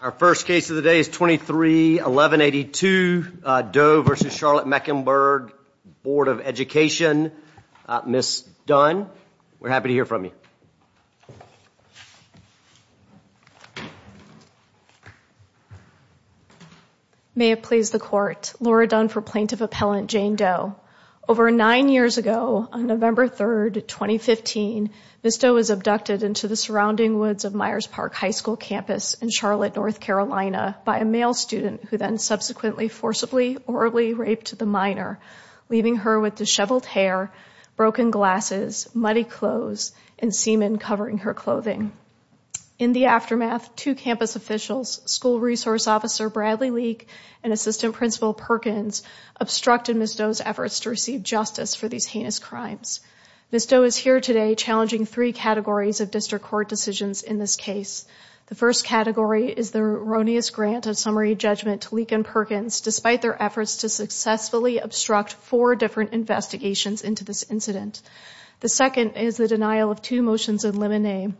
Our first case of the day is 23 1182 Doe v. Charlotte Mecklenburg Board of Education. Ms. Dunn, we're happy to hear from you. May it please the court. Laura Dunn for Plaintiff Appellant Jane Doe. Over nine years ago, on November 3rd, 2015, Ms. Doe was abducted into the surrounding woods of Myers Park High School campus in Charlotte, North Carolina by a male student who then subsequently forcibly orally raped the minor, leaving her with disheveled hair, broken glasses, muddy clothes, and semen covering her clothing. In the aftermath, two campus officials, School Resource Officer Bradley Leak and Assistant Principal Perkins, obstructed Ms. Doe's efforts to receive justice for these heinous crimes. Ms. Doe is here today challenging three categories of district court decisions in this case. The first category is the erroneous grant of summary judgment to Leak and Perkins, despite their efforts to successfully obstruct four different investigations into this incident. The second is the denial of two motions in limine,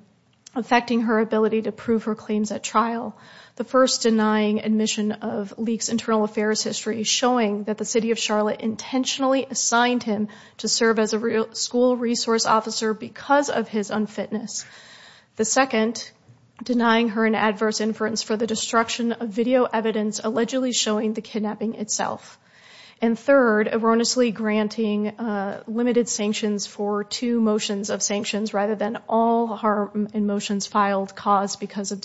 affecting her ability to prove her claims at trial. The first denying admission of Leak's internal affairs showing that the City of Charlotte intentionally assigned him to serve as a school resource officer because of his unfitness. The second, denying her an adverse inference for the destruction of video evidence allegedly showing the kidnapping itself. And third, erroneously granting limited sanctions for two motions of sanctions rather than all harm in motions filed caused because of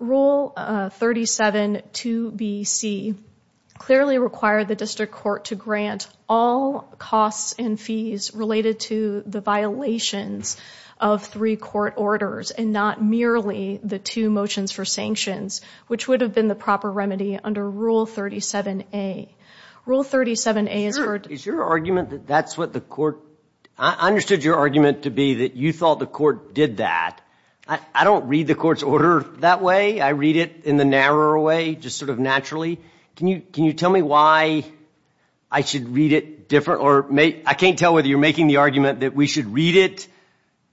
Rule 37-2-B-C clearly required the district court to grant all costs and fees related to the violations of three court orders and not merely the two motions for sanctions, which would have been the proper remedy under Rule 37-A. Rule 37-A is for... Is your argument that that's what the court... I understood your argument to be that you thought the court did that. I don't read the court's order that way. I read it in the narrower way, just sort of naturally. Can you tell me why I should read it different or make... I can't tell whether you're making the argument that we should read it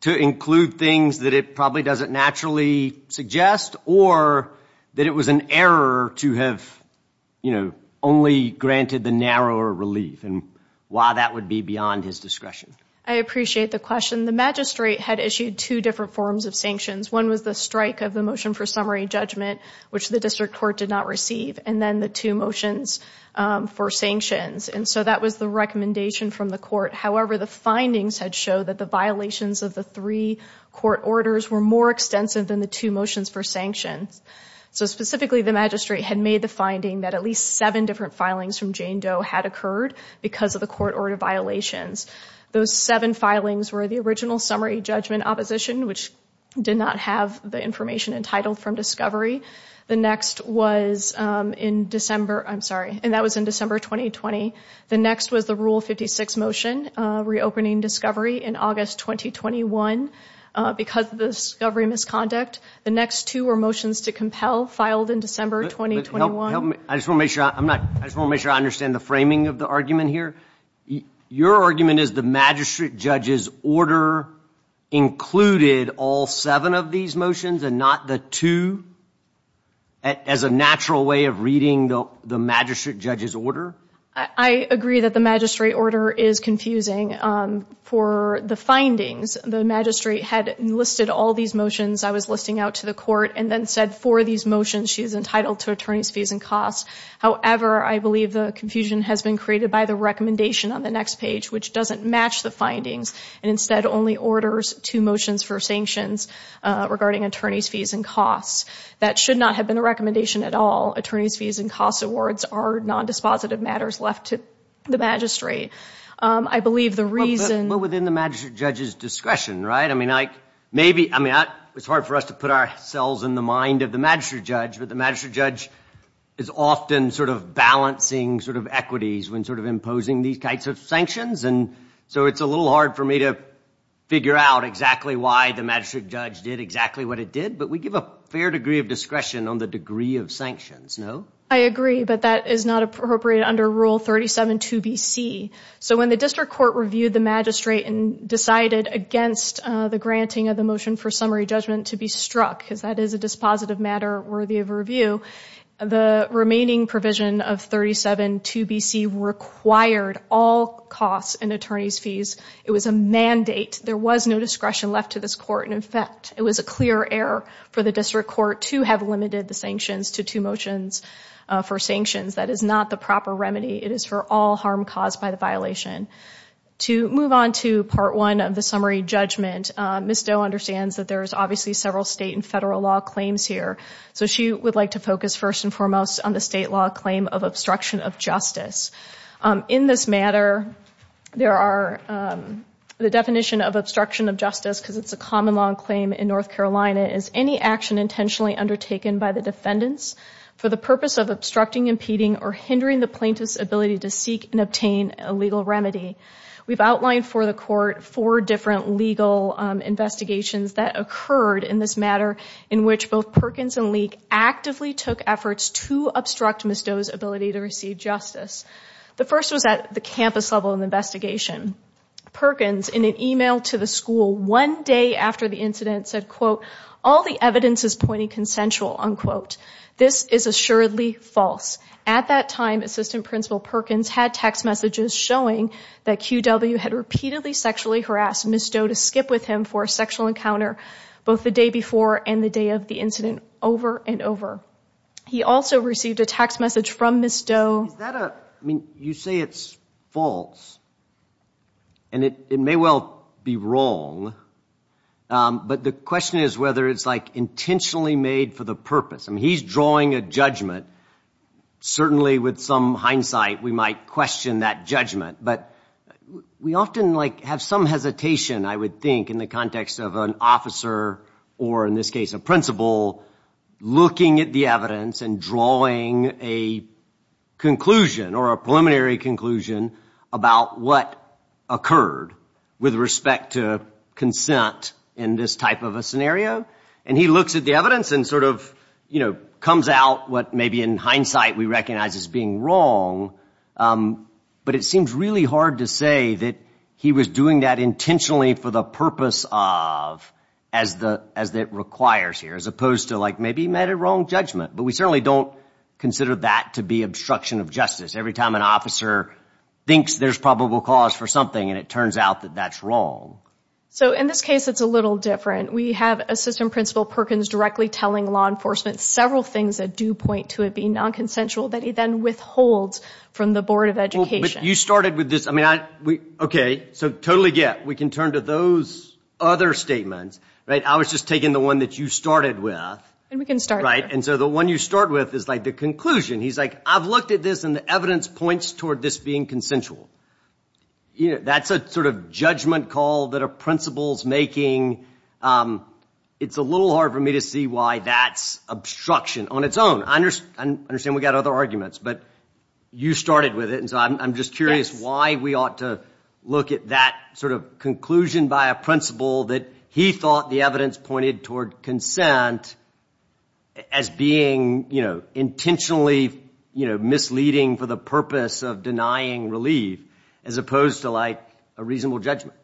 to include things that it probably doesn't naturally suggest or that it was an error to have, you know, only granted the narrower relief and why that would be beyond his discretion? I appreciate the question. The magistrate had issued two different forms of sanctions. One was the strike of the motion for summary judgment, which the district court did not receive, and then the two motions for sanctions. And so that was the recommendation from the court. However, the findings had showed that the violations of the three court orders were more extensive than the two motions for sanctions. So specifically, the magistrate had made the finding that at least seven different filings from Jane Doe had occurred because of the those seven filings were the original summary judgment opposition, which did not have the information entitled from discovery. The next was in December, I'm sorry, and that was in December 2020. The next was the Rule 56 motion, reopening discovery in August 2021. Because of the discovery misconduct, the next two were motions to compel filed in December 2021. Help me, I just want to make sure I'm not, I just want to make sure I understand the framing of the argument here. Your argument is the magistrate judge's order included all seven of these motions and not the two, as a natural way of reading the magistrate judge's order? I agree that the magistrate order is confusing. For the findings, the magistrate had enlisted all these motions I was listing out to the court and then said for these motions she is entitled to attorney's fees and costs. However, I believe the confusion has been created by the recommendation on the next page, which doesn't match the findings and instead only orders two motions for sanctions regarding attorney's fees and costs. That should not have been a recommendation at all. Attorney's fees and costs awards are non-dispositive matters left to the magistrate. I believe the reason... But within the magistrate judge's discretion, right? I mean, maybe, I mean, it's hard for us to put ourselves in the mind of the magistrate judge, but the magistrate judge is often sort of balancing sort of equities when sort of imposing these types of sanctions, and so it's a little hard for me to figure out exactly why the magistrate judge did exactly what it did, but we give a fair degree of discretion on the degree of sanctions, no? I agree, but that is not appropriate under Rule 37.2bc. So when the district court reviewed the magistrate and decided against the granting of the motion for summary judgment to be struck, because that is a dispositive matter worthy of review, the remaining provision of 37.2bc required all costs and attorney's fees. It was a mandate. There was no discretion left to this court. In fact, it was a clear error for the district court to have limited the sanctions to two motions for sanctions. That is not the proper remedy. It is for all harm caused by the violation. To move on to Part 1 of the summary judgment, Ms. Doe understands that there's obviously several state and federal law claims here, so she would like to focus first and foremost on the state law claim of obstruction of justice. In this matter, there are the definition of obstruction of justice, because it's a common law claim in North Carolina, is any action intentionally undertaken by the defendants for the purpose of obstructing, impeding, or hindering the plaintiff's ability to seek and obtain a legal remedy. We've outlined for the court four different legal investigations that occurred in this took efforts to obstruct Ms. Doe's ability to receive justice. The first was at the campus level in the investigation. Perkins, in an email to the school one day after the incident, said, quote, all the evidence is pointing consensual, unquote. This is assuredly false. At that time, Assistant Principal Perkins had text messages showing that QW had repeatedly sexually harassed Ms. Doe to skip with him for a sexual encounter, both the day before and the day of the incident, over and over. He also received a text message from Ms. Doe. Is that a, I mean, you say it's false, and it may well be wrong, but the question is whether it's, like, intentionally made for the purpose. I mean, he's drawing a judgment. Certainly, with some hindsight, we might question that judgment, but we often, like, have some hesitation, I would think, in the context of an officer, or in this case, a principal, looking at the evidence and drawing a conclusion or a preliminary conclusion about what occurred with respect to consent in this type of a scenario. And he looks at the evidence and sort of, you know, comes out what maybe in hindsight we recognize as being wrong, but it seems really hard to say that he was doing that intentionally for the purpose of, as the, as that requires here, as opposed to, like, maybe he made a wrong judgment. But we certainly don't consider that to be obstruction of justice. Every time an officer thinks there's probable cause for something, and it turns out that that's wrong. So, in this case, it's a little different. We have Assistant Principal Perkins directly telling law enforcement several things that do point to it being non-consensual that he then withholds from the Board of Education. You started with this, I mean, I, we, okay, so totally get, we can turn to those other statements, right? I was just taking the one that you started with. And we can start, right? And so the one you start with is, like, the conclusion. He's like, I've looked at this and the evidence points toward this being consensual. You know, that's a sort of judgment call that a principal's making. It's a little hard for me to see why that's obstruction on its own. I understand we got other arguments, but you started with it, and so I'm just curious why we ought to look at that sort of conclusion by a principal that he thought the evidence pointed toward consent as being, you know, intentionally, you know, misleading for the purpose of denying relief, as opposed to, like, a reasonable judgment.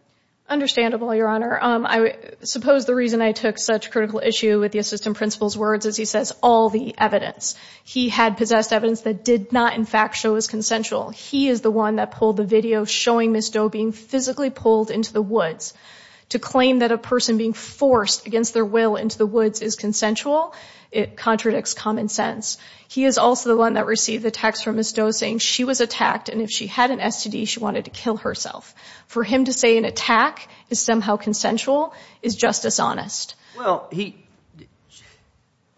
Understandable, Your Honor. I suppose the reason I took such critical issue with the Assistant Principal's words is he says all the evidence. He had possessed evidence that did not, in fact, show as consensual. He is the one that pulled the into the woods. To claim that a person being forced against their will into the woods is consensual, it contradicts common sense. He is also the one that received the text from Ms. Doe saying she was attacked, and if she had an STD, she wanted to kill herself. For him to say an attack is somehow consensual is just dishonest. Well, he,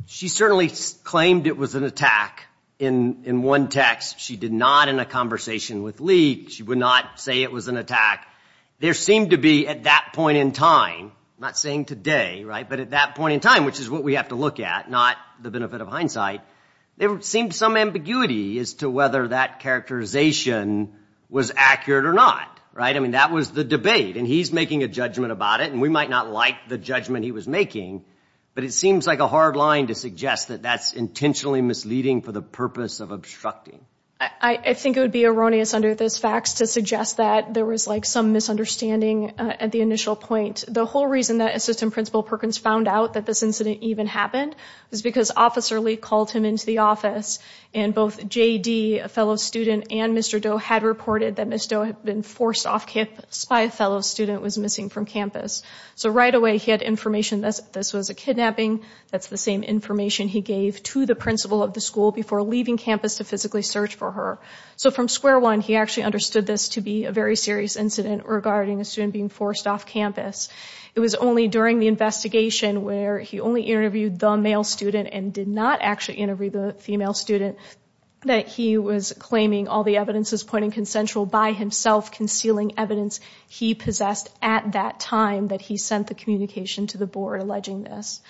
she certainly claimed it was an attack in one text. She did not end a conversation with Lee. She would not say it was an attack. There seemed to be, at that point in time, not saying today, right, but at that point in time, which is what we have to look at, not the benefit of hindsight, there seemed some ambiguity as to whether that characterization was accurate or not, right? I mean, that was the debate, and he's making a judgment about it, and we might not like the judgment he was making, but it seems like a hard line to suggest that that's intentionally misleading for the purpose of I think it would be erroneous under this fax to suggest that there was like some misunderstanding at the initial point. The whole reason that Assistant Principal Perkins found out that this incident even happened was because Officer Lee called him into the office, and both J.D., a fellow student, and Mr. Doe had reported that Ms. Doe had been forced off campus by a fellow student who was missing from campus. So right away, he had information that this was a kidnapping. That's the same information he gave to the principal of the school before leaving campus to physically search for her. So from square one, he actually understood this to be a very serious incident regarding a student being forced off campus. It was only during the investigation, where he only interviewed the male student and did not actually interview the female student, that he was claiming all the evidences pointing consensual by himself, concealing evidence he possessed at that time that he sent the communication to the board alleging this.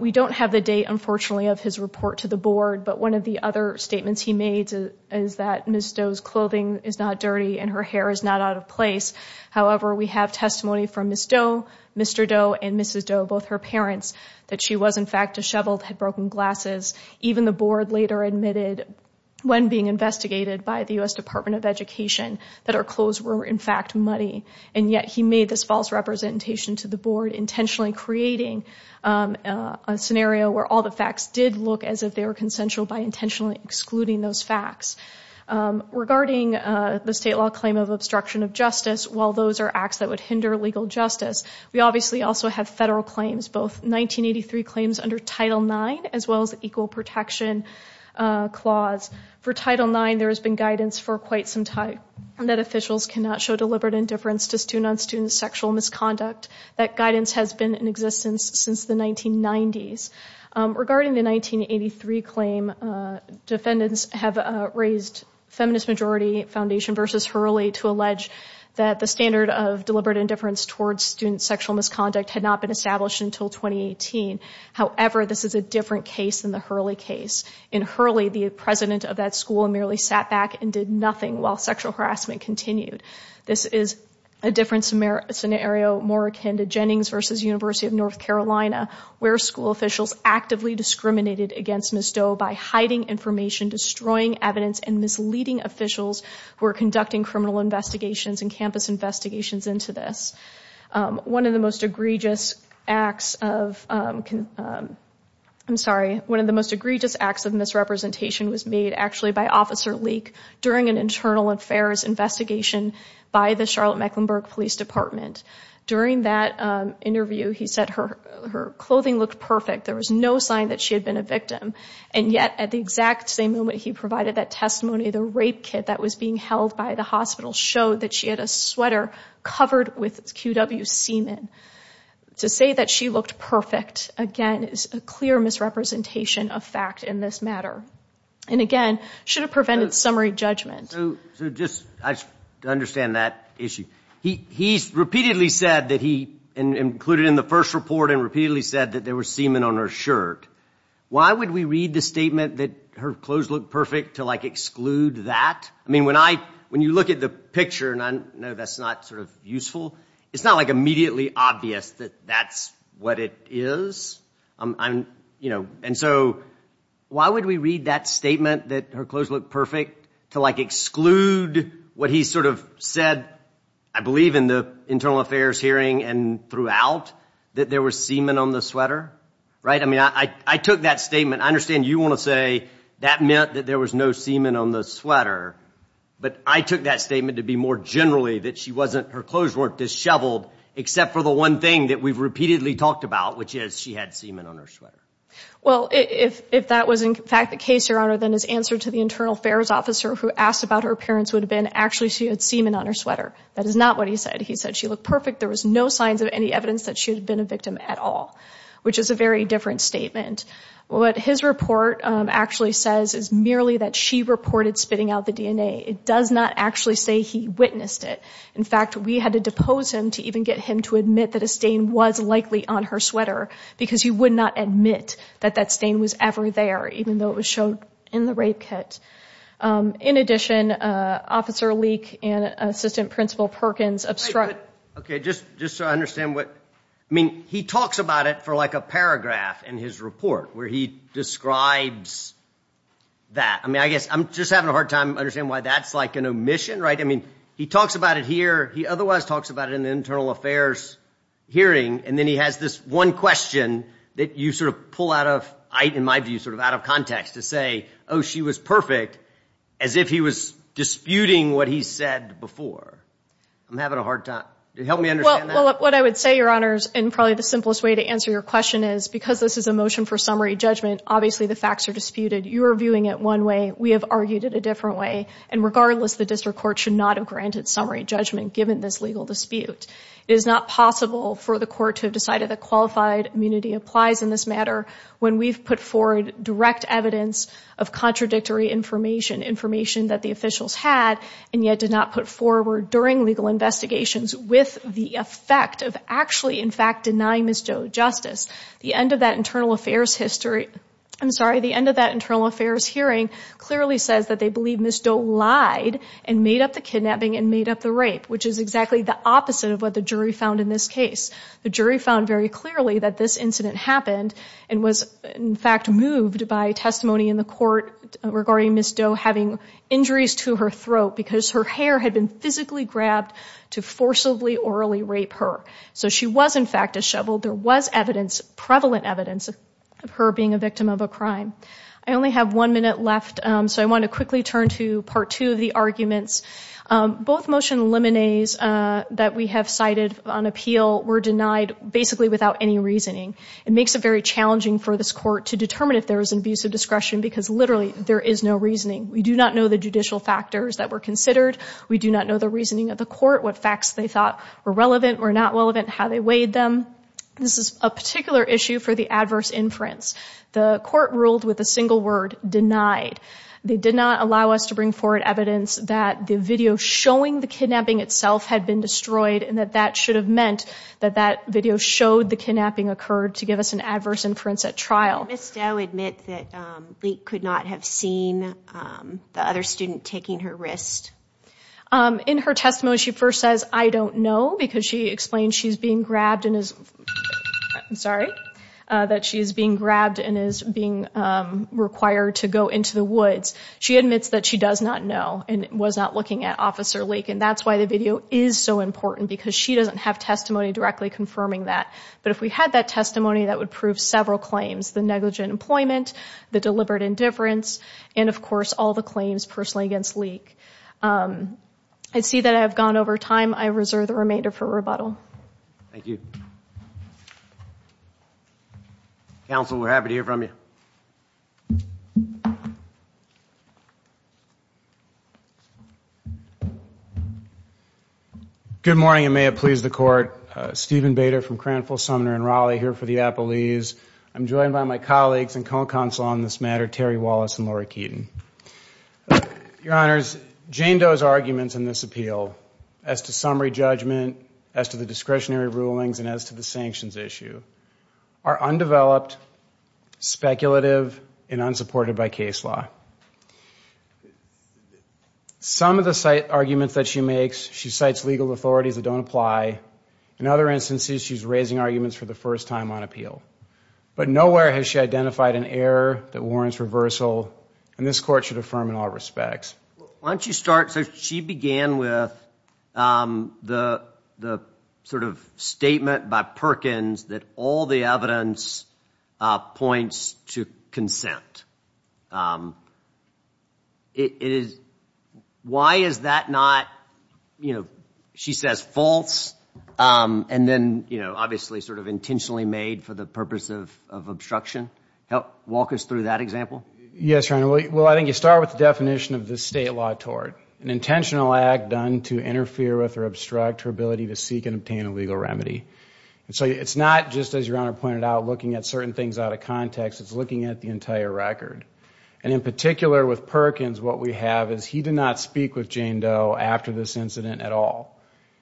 We don't have the date, unfortunately, of his report to the board, but one of the other statements he made is that Ms. Doe's clothing is not dirty and her hair is not out of place. However, we have testimony from Ms. Doe, Mr. Doe, and Mrs. Doe, both her parents, that she was in fact disheveled, had broken glasses. Even the board later admitted, when being investigated by the U.S. Department of Education, that her clothes were in fact muddy. And yet he made this false representation to the board, intentionally creating a scenario where all the facts did look as if they were consensual by intentionally excluding those facts. Regarding the state law claim of obstruction of justice, while those are acts that would hinder legal justice, we obviously also have federal claims, both 1983 claims under Title IX, as well as the Equal Protection Clause. For Title IX, there has been guidance for quite some time that officials cannot show deliberate indifference to student on existence since the 1990s. Regarding the 1983 claim, defendants have raised Feminist Majority Foundation v. Hurley to allege that the standard of deliberate indifference towards student sexual misconduct had not been established until 2018. However, this is a different case than the Hurley case. In Hurley, the president of that school merely sat back and did nothing while sexual harassment continued. This is a different scenario, more akin to North Carolina, where school officials actively discriminated against Ms. Doe by hiding information, destroying evidence, and misleading officials who were conducting criminal investigations and campus investigations into this. One of the most egregious acts of, I'm sorry, one of the most egregious acts of misrepresentation was made actually by Officer Leak during an internal affairs investigation by the Charlotte Mecklenburg Police Department. During that interview, he said her clothing looked perfect. There was no sign that she had been a victim. And yet, at the exact same moment he provided that testimony, the rape kit that was being held by the hospital showed that she had a sweater covered with QW semen. To say that she looked perfect, again, is a clear misrepresentation of fact in this matter. And again, should have prevented summary judgment. So just to understand that issue, he's repeatedly said that he included in the first report and repeatedly said that there was semen on her shirt. Why would we read the statement that her clothes look perfect to like exclude that? I mean, when I, when you look at the picture, and I know that's not sort of useful, it's not like immediately obvious that that's what it is. I'm, you know, and so why would we read that statement that her clothes look perfect to like exclude what he sort of said, I believe in the Internal Affairs hearing and throughout, that there was semen on the sweater, right? I mean, I took that statement, I understand you want to say that meant that there was no semen on the sweater, but I took that statement to be more generally that she wasn't, her clothes weren't disheveled, except for the one thing that we've repeatedly talked about, which is she had semen on her sweater. Well, if that was in fact the case, Your Honor, then his answer to the Internal Affairs officer who asked about her appearance would have been actually she had semen on her sweater. That is not what he said. He said she looked perfect, there was no signs of any evidence that she had been a victim at all, which is a very different statement. What his report actually says is merely that she reported spitting out the DNA. It does not actually say he witnessed it. In fact, we had to depose him to even get him to admit that a stain was likely on her there, even though it was shown in the rape kit. In addition, Officer Leek and Assistant Principal Perkins obstructed. Okay, just just so I understand what, I mean, he talks about it for like a paragraph in his report where he describes that. I mean, I guess I'm just having a hard time understanding why that's like an omission, right? I mean, he talks about it here, he otherwise talks about it in the Internal Affairs hearing, and then he has this one question that you sort of pull out of, in my view, sort of out of context to say, oh, she was perfect, as if he was disputing what he said before. I'm having a hard time. Help me understand that. Well, what I would say, Your Honors, and probably the simplest way to answer your question is, because this is a motion for summary judgment, obviously the facts are disputed. You are viewing it one way, we have argued it a different way, and regardless, the district court should not have granted summary judgment given this legal dispute. It is not possible for the court to have decided that qualified immunity applies in this matter when we've put forward direct evidence of contradictory information, information that the officials had and yet did not put forward during legal investigations with the effect of actually, in fact, denying Ms. Doe justice. The end of that Internal Affairs history, I'm sorry, the end of that Internal Affairs hearing clearly says that they believe Ms. Doe lied and made up the kidnapping and made up the rape, which is exactly the opposite of what the jury found in this case. The jury found very clearly that this incident happened and was, in fact, moved by testimony in the court regarding Ms. Doe having injuries to her throat because her hair had been physically grabbed to forcibly, orally rape her. So she was, in fact, disheveled. There was evidence, prevalent evidence, of her being a victim of a crime. I only have one minute left, so I want to quickly turn to part two of the arguments. Both motion liminees that we have cited on appeal were denied basically without any reasoning. It makes it very challenging for this court to determine if there is an abuse of discretion because literally there is no reasoning. We do not know the judicial factors that were considered. We do not know the reasoning of the court, what facts they thought were relevant or not relevant, how they weighed them. This is a particular issue for the adverse inference. The court ruled with a single word, denied. They did not allow us to bring forward evidence that the video showing the kidnapping itself had been occurred to give us an adverse inference at trial. Did Ms. Doe admit that Lake could not have seen the other student taking her wrist? In her testimony, she first says, I don't know, because she explained she's being grabbed and is, I'm sorry, that she is being grabbed and is being required to go into the woods. She admits that she does not know and was not looking at Officer Lake and that's why the video is so important because she doesn't have that. But if we had that testimony, that would prove several claims. The negligent employment, the deliberate indifference, and of course all the claims personally against Lake. I see that I have gone over time. I reserve the remainder for rebuttal. Thank you. Counsel, we're happy to hear from you. Good morning and may it please the court. Steven Bader from Cranfield, Sumner, and Raleigh here for the Appelese. I'm joined by my colleagues and co-counsel on this matter, Terry Wallace and Laura Keaton. Your Honors, Jane Doe's arguments in this appeal as to summary judgment, as to the discretionary rulings, and as to the unsupported by case law. Some of the arguments that she makes, she cites legal authorities that don't apply. In other instances, she's raising arguments for the first time on appeal. But nowhere has she identified an error that warrants reversal and this court should affirm in all respects. Why don't you start? So she began with the sort of statement by Perkins that all the evidence points to it. Why is that not, you know, she says false and then, you know, obviously sort of intentionally made for the purpose of obstruction. Walk us through that example. Yes, Your Honor. Well, I think you start with the definition of the state law tort. An intentional act done to interfere with or obstruct her ability to seek and obtain a legal remedy. And so it's not just, as Your Honor pointed out, looking at certain things out of context. It's looking at the entire record. And in particular with Perkins, what we have is he did not speak with Jane Doe after this incident at all.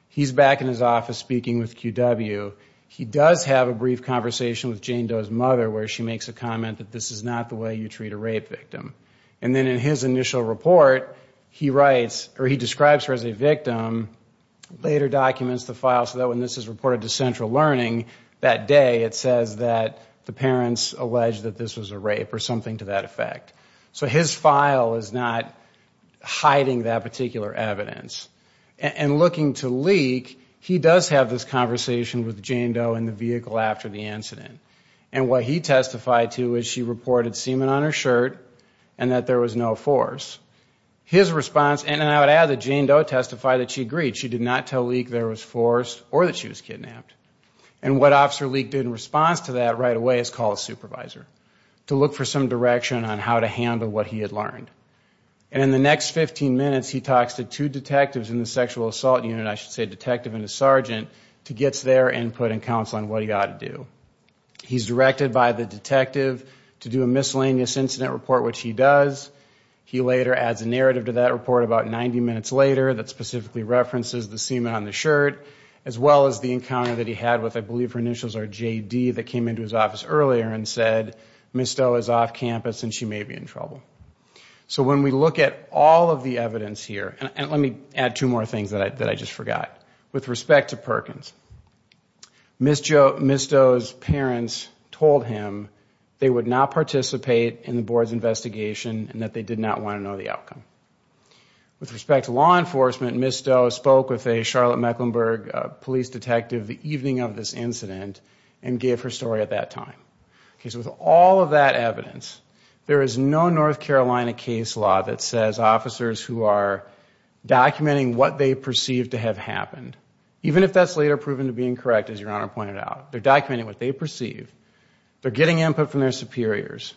He's back in his office speaking with QW. He does have a brief conversation with Jane Doe's mother where she makes a comment that this is not the way you treat a rape victim. And then in his initial report, he writes, or he describes her as a victim, later documents the file so that when this is reported to Central Learning that day, it says that the parents alleged that this was a rape or something to that effect. So his file is not hiding that particular evidence. And looking to Leak, he does have this conversation with Jane Doe in the vehicle after the incident. And what he testified to is she reported semen on her shirt and that there was no force. His response, and I would add that Jane Doe testified that she agreed. She did not tell Leak there was force or that she was kidnapped. And what Officer Leak did in response to that right away is call a supervisor to look for some direction on how to handle what he had learned. And in the next 15 minutes, he talks to two detectives in the sexual assault unit, I should say detective and a sergeant, to get their input and counsel on what he ought to do. He's directed by the detective to do a miscellaneous incident report, which he does. He later adds a narrative to that report about 90 minutes later that specifically references the semen on the shirt, as well as the encounter that he had with, I believe her initials are JD, that came into his office earlier and said Ms. Doe is off campus and she may be in trouble. So when we look at all of the evidence here, and let me add two more things that I just forgot. With respect to Perkins, Ms. Doe's parents told him they would not participate in the board's investigation and that they did not want to know the Ms. Doe spoke with a Charlotte Mecklenburg police detective the evening of this incident and gave her story at that time. Okay, so with all of that evidence, there is no North Carolina case law that says officers who are documenting what they perceive to have happened, even if that's later proven to be incorrect as your honor pointed out. They're documenting what they perceive. They're getting input from their superiors.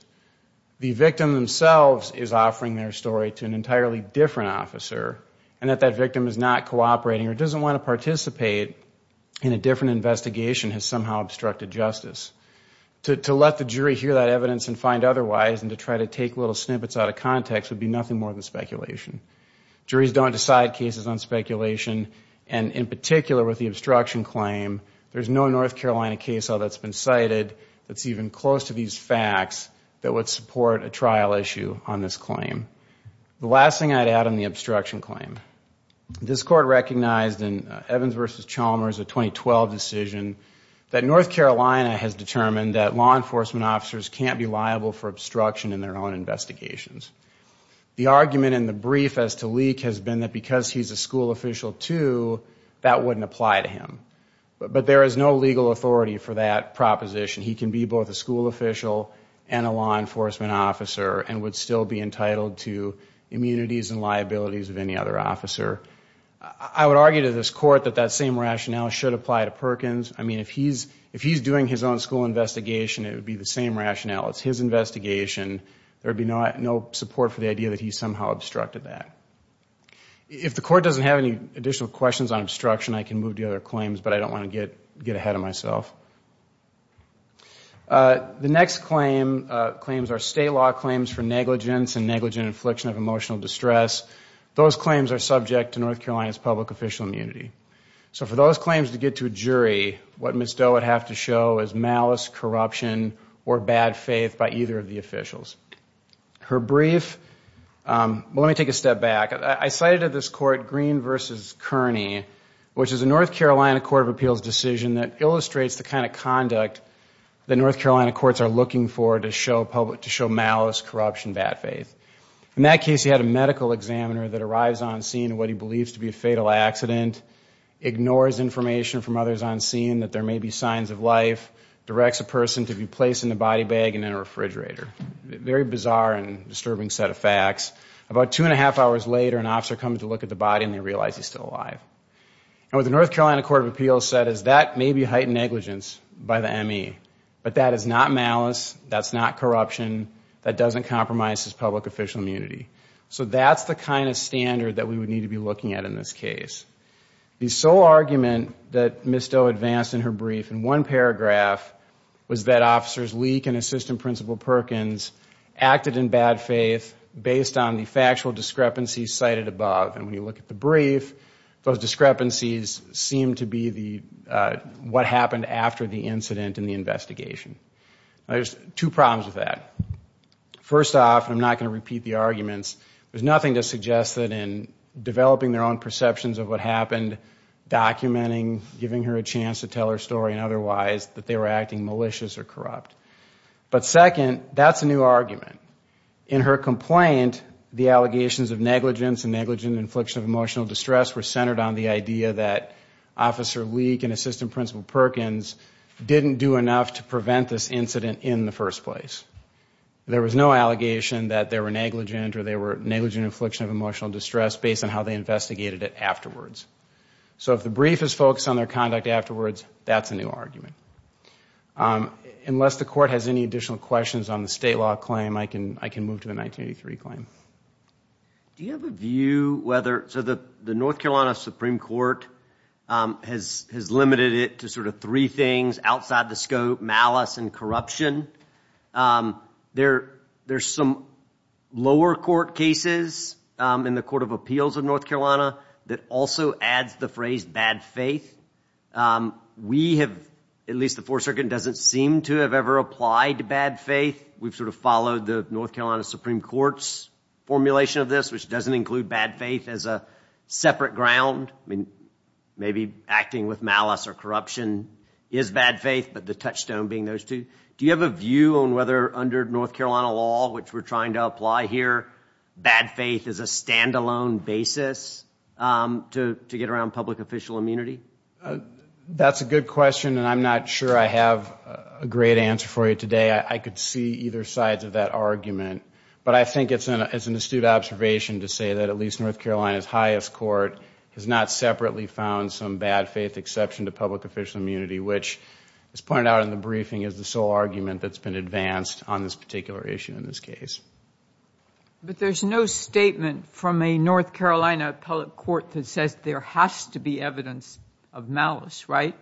The victim themselves is an entirely different officer and that that victim is not cooperating or doesn't want to participate in a different investigation has somehow obstructed justice. To let the jury hear that evidence and find otherwise and to try to take little snippets out of context would be nothing more than speculation. Juries don't decide cases on speculation and in particular with the obstruction claim, there's no North Carolina case law that's been cited that's even close to these facts that would support a trial issue on this claim. The last thing I'd add on the obstruction claim, this court recognized in Evans versus Chalmers, a 2012 decision, that North Carolina has determined that law enforcement officers can't be liable for obstruction in their own investigations. The argument in the brief as to Leak has been that because he's a school official too, that wouldn't apply to him. But there is no legal authority for that proposition. He can be both a school official and a law enforcement officer and would still be entitled to immunities and liabilities of any other officer. I would argue to this court that that same rationale should apply to Perkins. I mean if he's if he's doing his own school investigation, it would be the same rationale. It's his investigation. There would be no support for the idea that he somehow obstructed that. If the court doesn't have any additional questions on obstruction, I can move to the other claims but I don't want to get ahead of myself. The next claims are state law claims for negligence and negligent infliction of emotional distress. Those claims are subject to North Carolina's public official immunity. So for those claims to get to a jury, what Ms. Doe would have to show is malice, corruption, or bad faith by either of the officials. Her brief, let me take a step back. I cited at this court Green versus Kearney, which is a North Carolina Court of Appeals decision that illustrates the kind of conduct the North Carolina courts are looking for to show public, to show malice, corruption, bad faith. In that case, he had a medical examiner that arrives on scene what he believes to be a fatal accident, ignores information from others on scene that there may be signs of life, directs a person to be placed in a body bag and in a refrigerator. Very bizarre and disturbing set of facts. About two and a half hours later, an officer comes to look at the body and they realize he's still alive. And what the North Carolina Court of Appeals said is that may be heightened negligence by the ME, but that is not malice, that's not corruption, that doesn't compromise his public official immunity. So that's the kind of standard that we would need to be looking at in this case. The sole argument that Ms. Doe advanced in her brief in one paragraph was that officers Leak and Assistant Principal Perkins acted in bad faith based on the factual discrepancy cited above. And when you look at the brief, those discrepancies seem to be what happened after the incident in the investigation. There's two problems with that. First off, I'm not going to repeat the arguments, there's nothing to suggest that in developing their own perceptions of what happened, documenting, giving her a chance to tell her story and otherwise, that they were acting malicious or corrupt. But second, that's a new argument. In her complaint, the allegations of negligence and infliction of emotional distress were centered on the idea that Officer Leak and Assistant Principal Perkins didn't do enough to prevent this incident in the first place. There was no allegation that they were negligent or they were negligent infliction of emotional distress based on how they investigated it afterwards. So if the brief is focused on their conduct afterwards, that's a new argument. Unless the court has any additional questions on the state law claim, I can move to a 1983 claim. Do you have a view whether, so the North Carolina Supreme Court has limited it to sort of three things outside the scope, malice and corruption. There's some lower court cases in the Court of Appeals of North Carolina that also adds the phrase bad faith. We have, at least the Fourth Circuit, doesn't seem to have ever applied to bad faith. We've sort of followed the North Carolina Supreme Court's formulation of this, which doesn't include bad faith as a separate ground. I mean, maybe acting with malice or corruption is bad faith, but the touchstone being those two. Do you have a view on whether under North Carolina law, which we're trying to apply here, bad faith is a standalone basis to get around public official immunity? That's a good question and I'm not sure I have a great answer for you today. I could see either sides of that argument, but I think it's an astute observation to say that at least North Carolina's highest court has not separately found some bad faith exception to public official immunity, which, as pointed out in the briefing, is the sole argument that's been advanced on this particular issue in this case. But there's no statement from a North Carolina appellate court that says there has to be evidence of malice, right?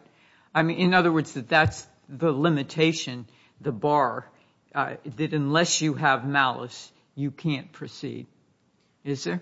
I did unless you have malice, you can't proceed. Is there?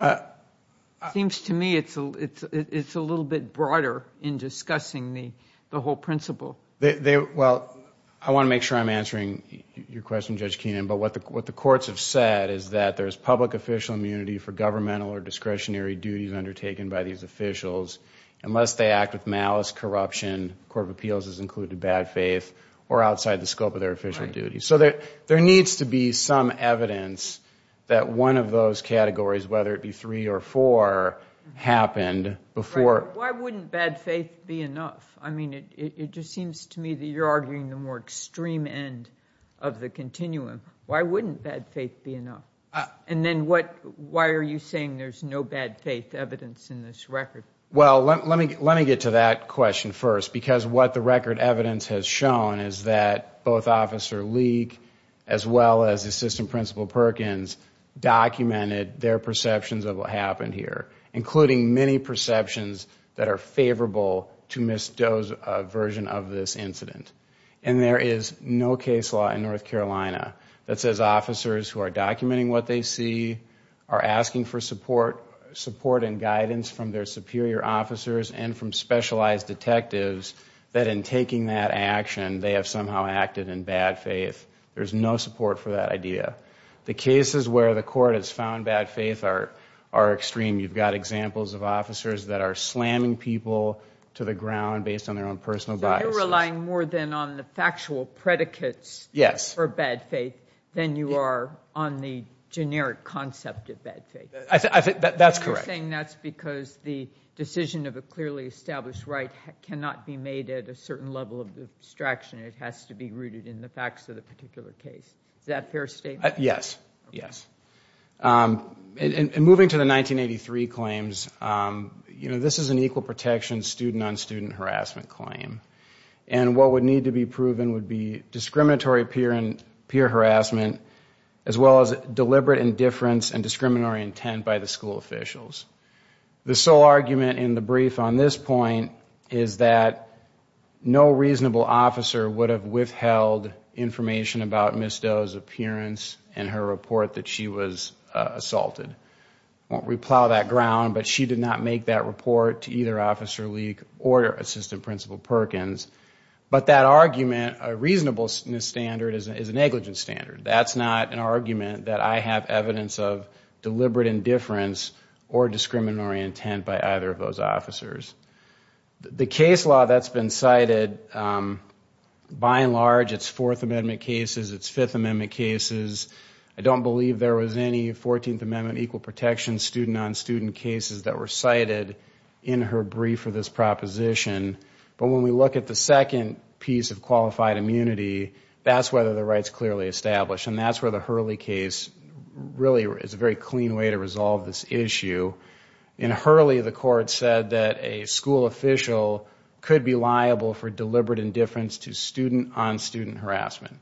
It seems to me it's a little bit broader in discussing the whole principle. Well, I want to make sure I'm answering your question, Judge Keenan, but what the courts have said is that there's public official immunity for governmental or discretionary duties undertaken by these officials. Unless they act with malice, corruption, the Court of Appeals has included bad faith, or official duty. So there needs to be some evidence that one of those categories, whether it be three or four, happened before. Why wouldn't bad faith be enough? I mean, it just seems to me that you're arguing the more extreme end of the continuum. Why wouldn't bad faith be enough? And then why are you saying there's no bad faith evidence in this record? Well, let me get to that question first, because what the record evidence has shown is that both Officer Leak as well as Assistant Principal Perkins documented their perceptions of what happened here, including many perceptions that are favorable to Ms. Doe's version of this incident. And there is no case law in North Carolina that says officers who are documenting what they see are asking for support and guidance from their superior officers and from specialized detectives that in taking that action they have somehow acted in bad faith. There's no support for that idea. The cases where the court has found bad faith are extreme. You've got examples of officers that are slamming people to the ground based on their own personal biases. So you're relying more than on the factual predicates for bad faith than you are on the generic concept of bad faith. I think that's correct. You're saying that's because the decision of a clearly established right cannot be made at a certain level of abstraction, it has to be rooted in the facts of the particular case. Is that a fair statement? Yes, yes. And moving to the 1983 claims, you know, this is an equal protection student on student harassment claim. And what would need to be proven would be discriminatory peer harassment as well as deliberate indifference and discriminatory intent by the school officials. The sole argument in the brief on this point is that no reasonable officer would have withheld information about Ms. Doe's appearance and her report that she was assaulted. We plow that ground, but she did not make that report to either Officer Leak or Assistant Principal Perkins. But that argument, a reasonableness standard is a negligence standard. That's not an argument that I have evidence of deliberate indifference or discriminatory intent by either of those officers. The case law that's been cited, by and large, it's Fourth Amendment cases, it's Fifth Amendment cases. I don't believe there was any 14th Amendment equal protection student on student cases that were cited in her brief for this proposition. But when we look at the second piece of qualified immunity, that's whether the right's clearly established. And that's where the Hurley case really is a very clean way to resolve this issue. In Hurley, the court said that a school official could be liable for deliberate indifference to student on student harassment.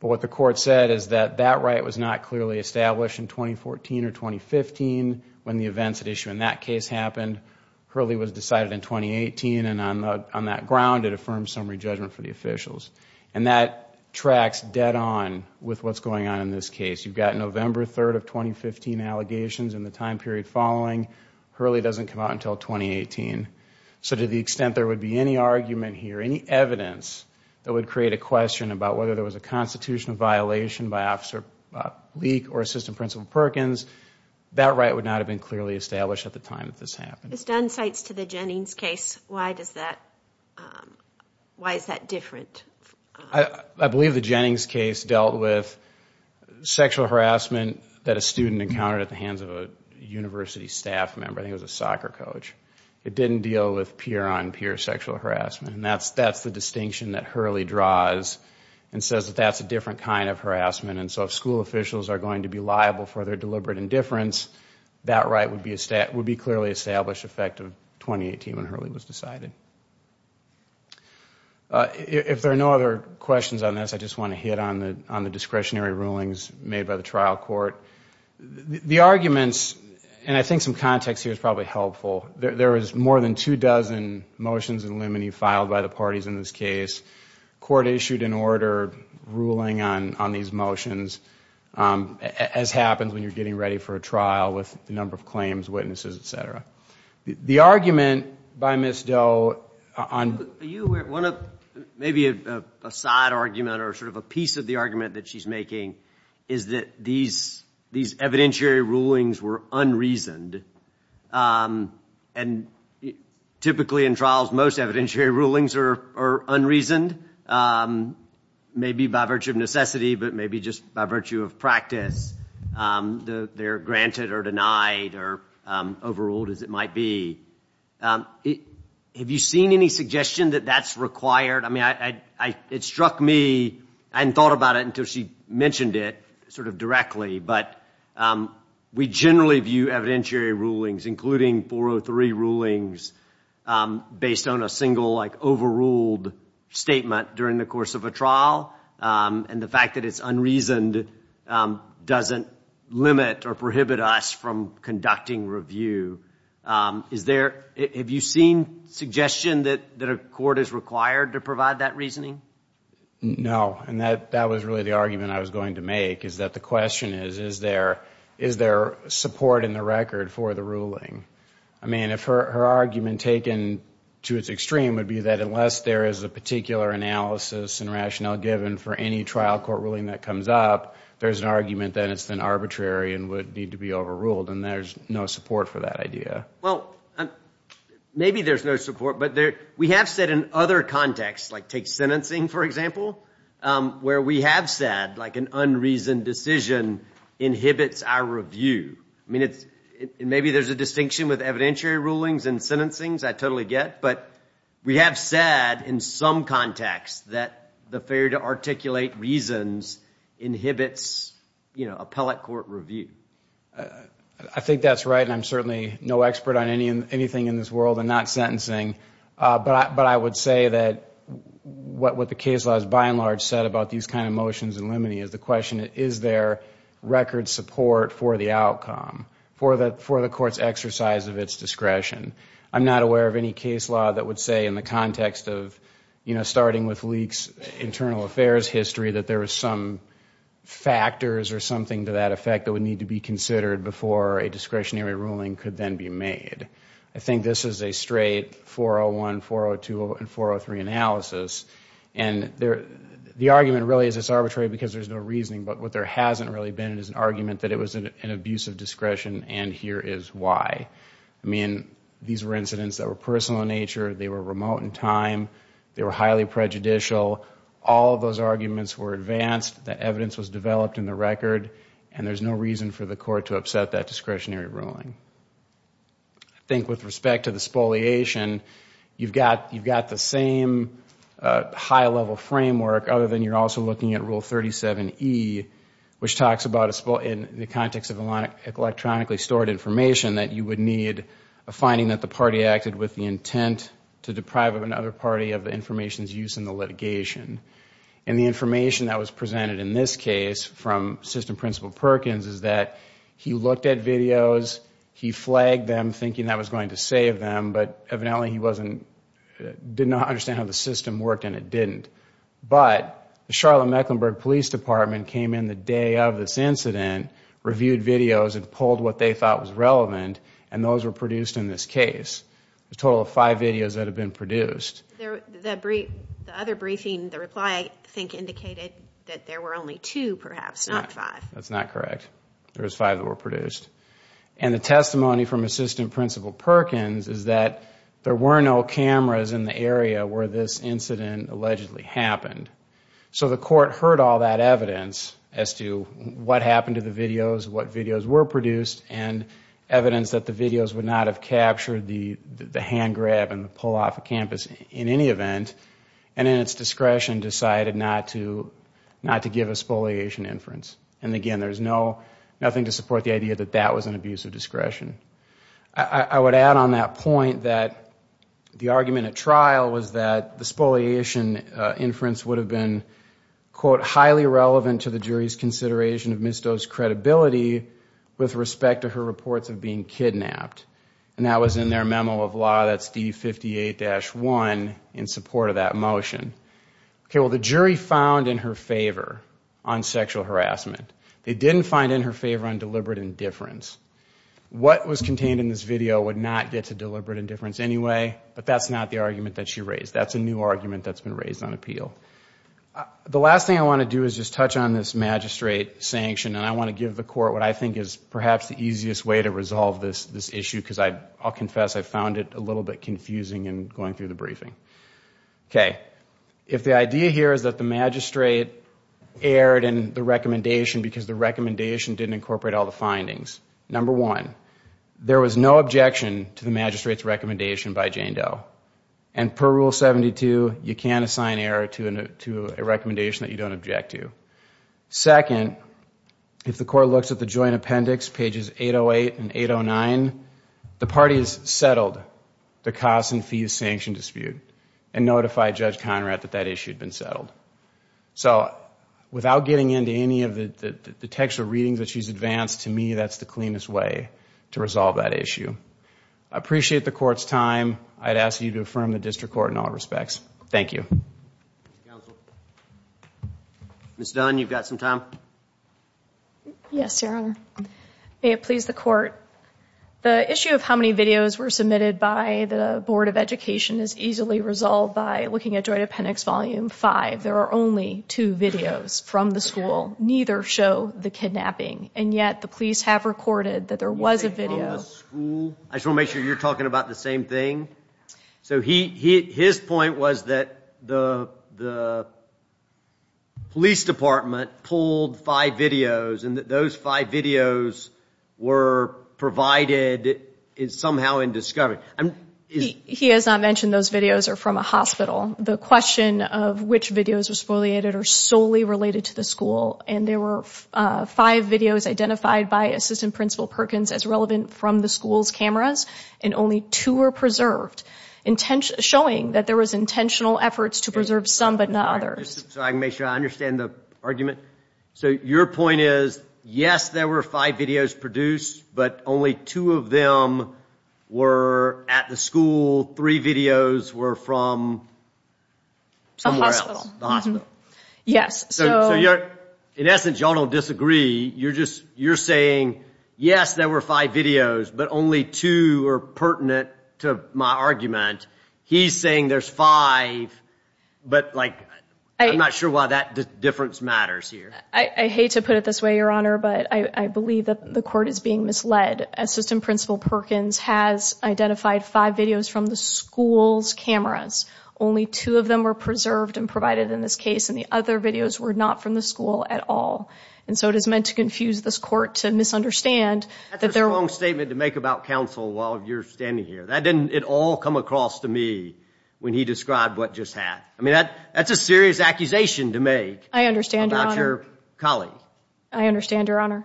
But what the court said is that that right was not clearly established in 2014 or 2015 when the events at issue in that case happened. Hurley was decided in 2018 and on that ground it affirms summary judgment for the officials. And that tracks dead-on with what's going on in this case. You've got November 3rd of 2015 allegations and the time period following, Hurley doesn't come out until 2018. So to the extent there would be any argument here, any evidence that would create a question about whether there was a constitutional violation by Officer Leak or Assistant Principal Perkins, that right would not have been clearly established at the time that this happened. Ms. Dunn cites to the Jennings case, why is that different? I believe the Jennings case dealt with sexual harassment that a student encountered at the hands of a university staff member. I think it was a soccer coach. It didn't deal with peer-on- peer sexual harassment. And that's the distinction that Hurley draws and says that that's a different kind of harassment. And so if school officials are going to be liable for their deliberate indifference, that right would be clearly established effective 2018 when Hurley was decided. If there are no other questions on this, I just want to hit on the discretionary rulings made by the trial court. The arguments, and I think some context here is probably helpful, there is more than two dozen motions in limine filed by the parties in this case. Court issued an order ruling on these motions, as happens when you're getting ready for a trial with the number of cases. A piece of the argument that she's making is that these evidentiary rulings were unreasoned. Typically in trials, most evidentiary rulings are unreasoned, maybe by virtue of necessity, but maybe just by virtue of practice. They're granted or denied or overruled as it might be. Have you seen any suggestion that that's required? I mean, it struck me, I hadn't thought about it until she mentioned it sort of directly, but we generally view evidentiary rulings, including 403 rulings, based on a single like overruled statement during the course of a trial. And the fact that it's unreasoned doesn't limit or prohibit us from conducting review. Have you seen suggestion that a court is required to provide that reasoning? No, and that was really the argument I was going to make, is that the question is, is there support in the record for the ruling? I mean, if her argument taken to its extreme would be that unless there is a particular analysis and rationale given for any trial court ruling that comes up, there's an argument that it's then arbitrary and would need to be overruled, and there's no support for that idea. Well, maybe there's no support, but we have said in other contexts, like take sentencing for example, where we have said like an unreasoned decision inhibits our review. I mean, maybe there's a distinction with evidentiary rulings and sentencing, I totally get, but we have said in some contexts that the failure to articulate reasons inhibits, you know, appellate court review. I think that's right, and I'm certainly no expert on anything in this world and not sentencing, but I would say that what the case law has by and large said about these kind of motions and limine is the question, is there record support for the outcome, for the court's exercise of its discretion? I'm not aware of any case law that would say in the context of, you know, starting with Leak's internal affairs history, that there are some factors or something to that effect that would need to be considered before a discretionary ruling could then be made. I think this is a straight 401, 402, and 403 analysis, and the argument really is it's arbitrary because there's no reasoning, but what there hasn't really been is an argument that it was an abusive discretion, and here is why. I mean, these were incidents that were remote in time, they were highly prejudicial, all of those arguments were advanced, the evidence was developed in the record, and there's no reason for the court to upset that discretionary ruling. I think with respect to the spoliation, you've got the same high-level framework, other than you're also looking at Rule 37e, which talks about a spoliation in the context of electronically stored information, that you would need a finding that the party acted with the intent to deprive of another party of the information's use in the litigation, and the information that was presented in this case from Assistant Principal Perkins is that he looked at videos, he flagged them thinking that was going to save them, but evidently he didn't understand how the system worked and it didn't, but the Charlotte Mecklenburg Police Department came in the day of this incident, reviewed videos, and pulled what they thought was relevant, and those were produced in this case. A total of five videos that have been produced. The other briefing, the reply, I think indicated that there were only two, perhaps, not five. That's not correct. There was five that were produced, and the testimony from Assistant Principal Perkins is that there were no cameras in the area where this incident allegedly happened, so the court heard all that evidence as to what happened to the videos, and evidence that the videos would not have captured the hand-grab and the pull off of campus in any event, and in its discretion decided not to give a spoliation inference. And again, there's nothing to support the idea that that was an abuse of discretion. I would add on that point that the argument at trial was that the spoliation inference would have been quote, highly relevant to the jury's consideration of misdose credibility with respect to her reports of being kidnapped, and that was in their memo of law that's D58-1 in support of that motion. Okay, well the jury found in her favor on sexual harassment. They didn't find in her favor on deliberate indifference. What was contained in this video would not get to deliberate indifference anyway, but that's not the argument that she raised. That's a new argument that's been raised on appeal. The last thing I want to do is just what I think is perhaps the easiest way to resolve this issue, because I'll confess I found it a little bit confusing in going through the briefing. Okay, if the idea here is that the magistrate erred in the recommendation because the recommendation didn't incorporate all the findings. Number one, there was no objection to the magistrate's recommendation by Jane Doe, and per Rule 72, you can assign error to a recommendation that you don't object to. Second, if the court looks at the joint appendix, pages 808 and 809, the party has settled the costs and fees sanction dispute and notified Judge Conrad that that issue had been settled. So without getting into any of the textual readings that she's advanced, to me that's the cleanest way to resolve that issue. I appreciate the court's time. I'd ask you to affirm the district court in all respects. Thank you. Ms. Dunn, you've got some time? Yes, Your Honor. May it please the court. The issue of how many videos were submitted by the Board of Education is easily resolved by looking at Joint Appendix Volume 5. There are only two videos from the school. Neither show the kidnapping, and yet the police have recorded that there was a He has not mentioned those videos are from a hospital. The question of which videos were spoliated are solely related to the school, and there were five videos identified by Assistant Principal Perkins as relevant from the school's showing that there was intentional efforts to preserve some but not others. So I can make sure I understand the argument. So your point is, yes there were five videos produced, but only two of them were at the school, three videos were from somewhere else. Yes. So in essence, y'all don't disagree. You're just, you're only two are pertinent to my argument. He's saying there's five, but like, I'm not sure why that difference matters here. I hate to put it this way, Your Honor, but I believe that the court is being misled. Assistant Principal Perkins has identified five videos from the school's cameras. Only two of them were preserved and provided in this case, and the other videos were not from the school at all. And so it is meant to confuse this court to misunderstand that wrong statement to make about counsel while you're standing here. That didn't at all come across to me when he described what just happened. I mean that that's a serious accusation to make. I understand, Your Honor. About your colleague. I understand, Your Honor,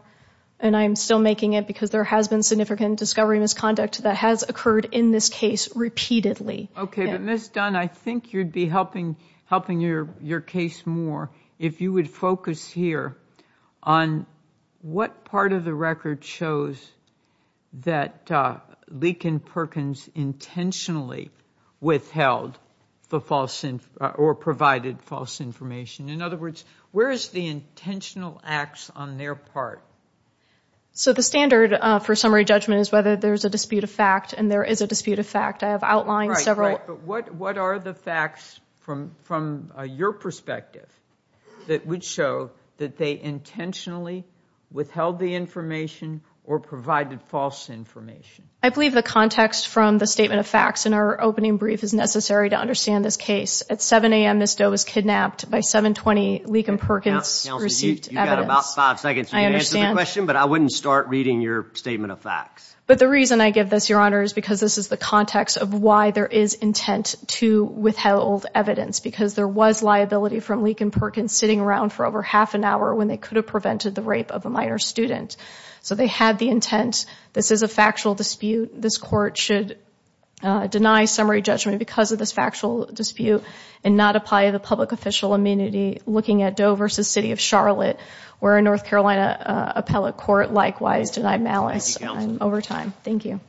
and I am still making it because there has been significant discovery misconduct that has occurred in this case repeatedly. Okay, but Ms. Dunn, I think you'd be helping your case more if you would focus here on what part of the record shows that Leakin Perkins intentionally withheld the false or provided false information. In other words, where is the intentional acts on their part? So the standard for summary judgment is whether there's a dispute of fact, and there is a dispute of fact. I believe the context from the statement of facts in our opening brief is necessary to understand this case. At 7 a.m. Ms. Doe was kidnapped by 720 Leakin Perkins received evidence. I understand, but I wouldn't start reading your statement of facts. But the reason I give this, Your Honor, is because this is the context of why there is intent to withheld evidence. Because there was liability from Leakin Perkins sitting around for over half an hour when they could have prevented the rape of a minor student. So they had the intent. This is a factual dispute. This court should deny summary judgment because of this factual dispute and not apply the public official immunity. Looking at Doe v. City of Charlotte, where a North Carolina appellate court likewise denied malice over time. Thank you.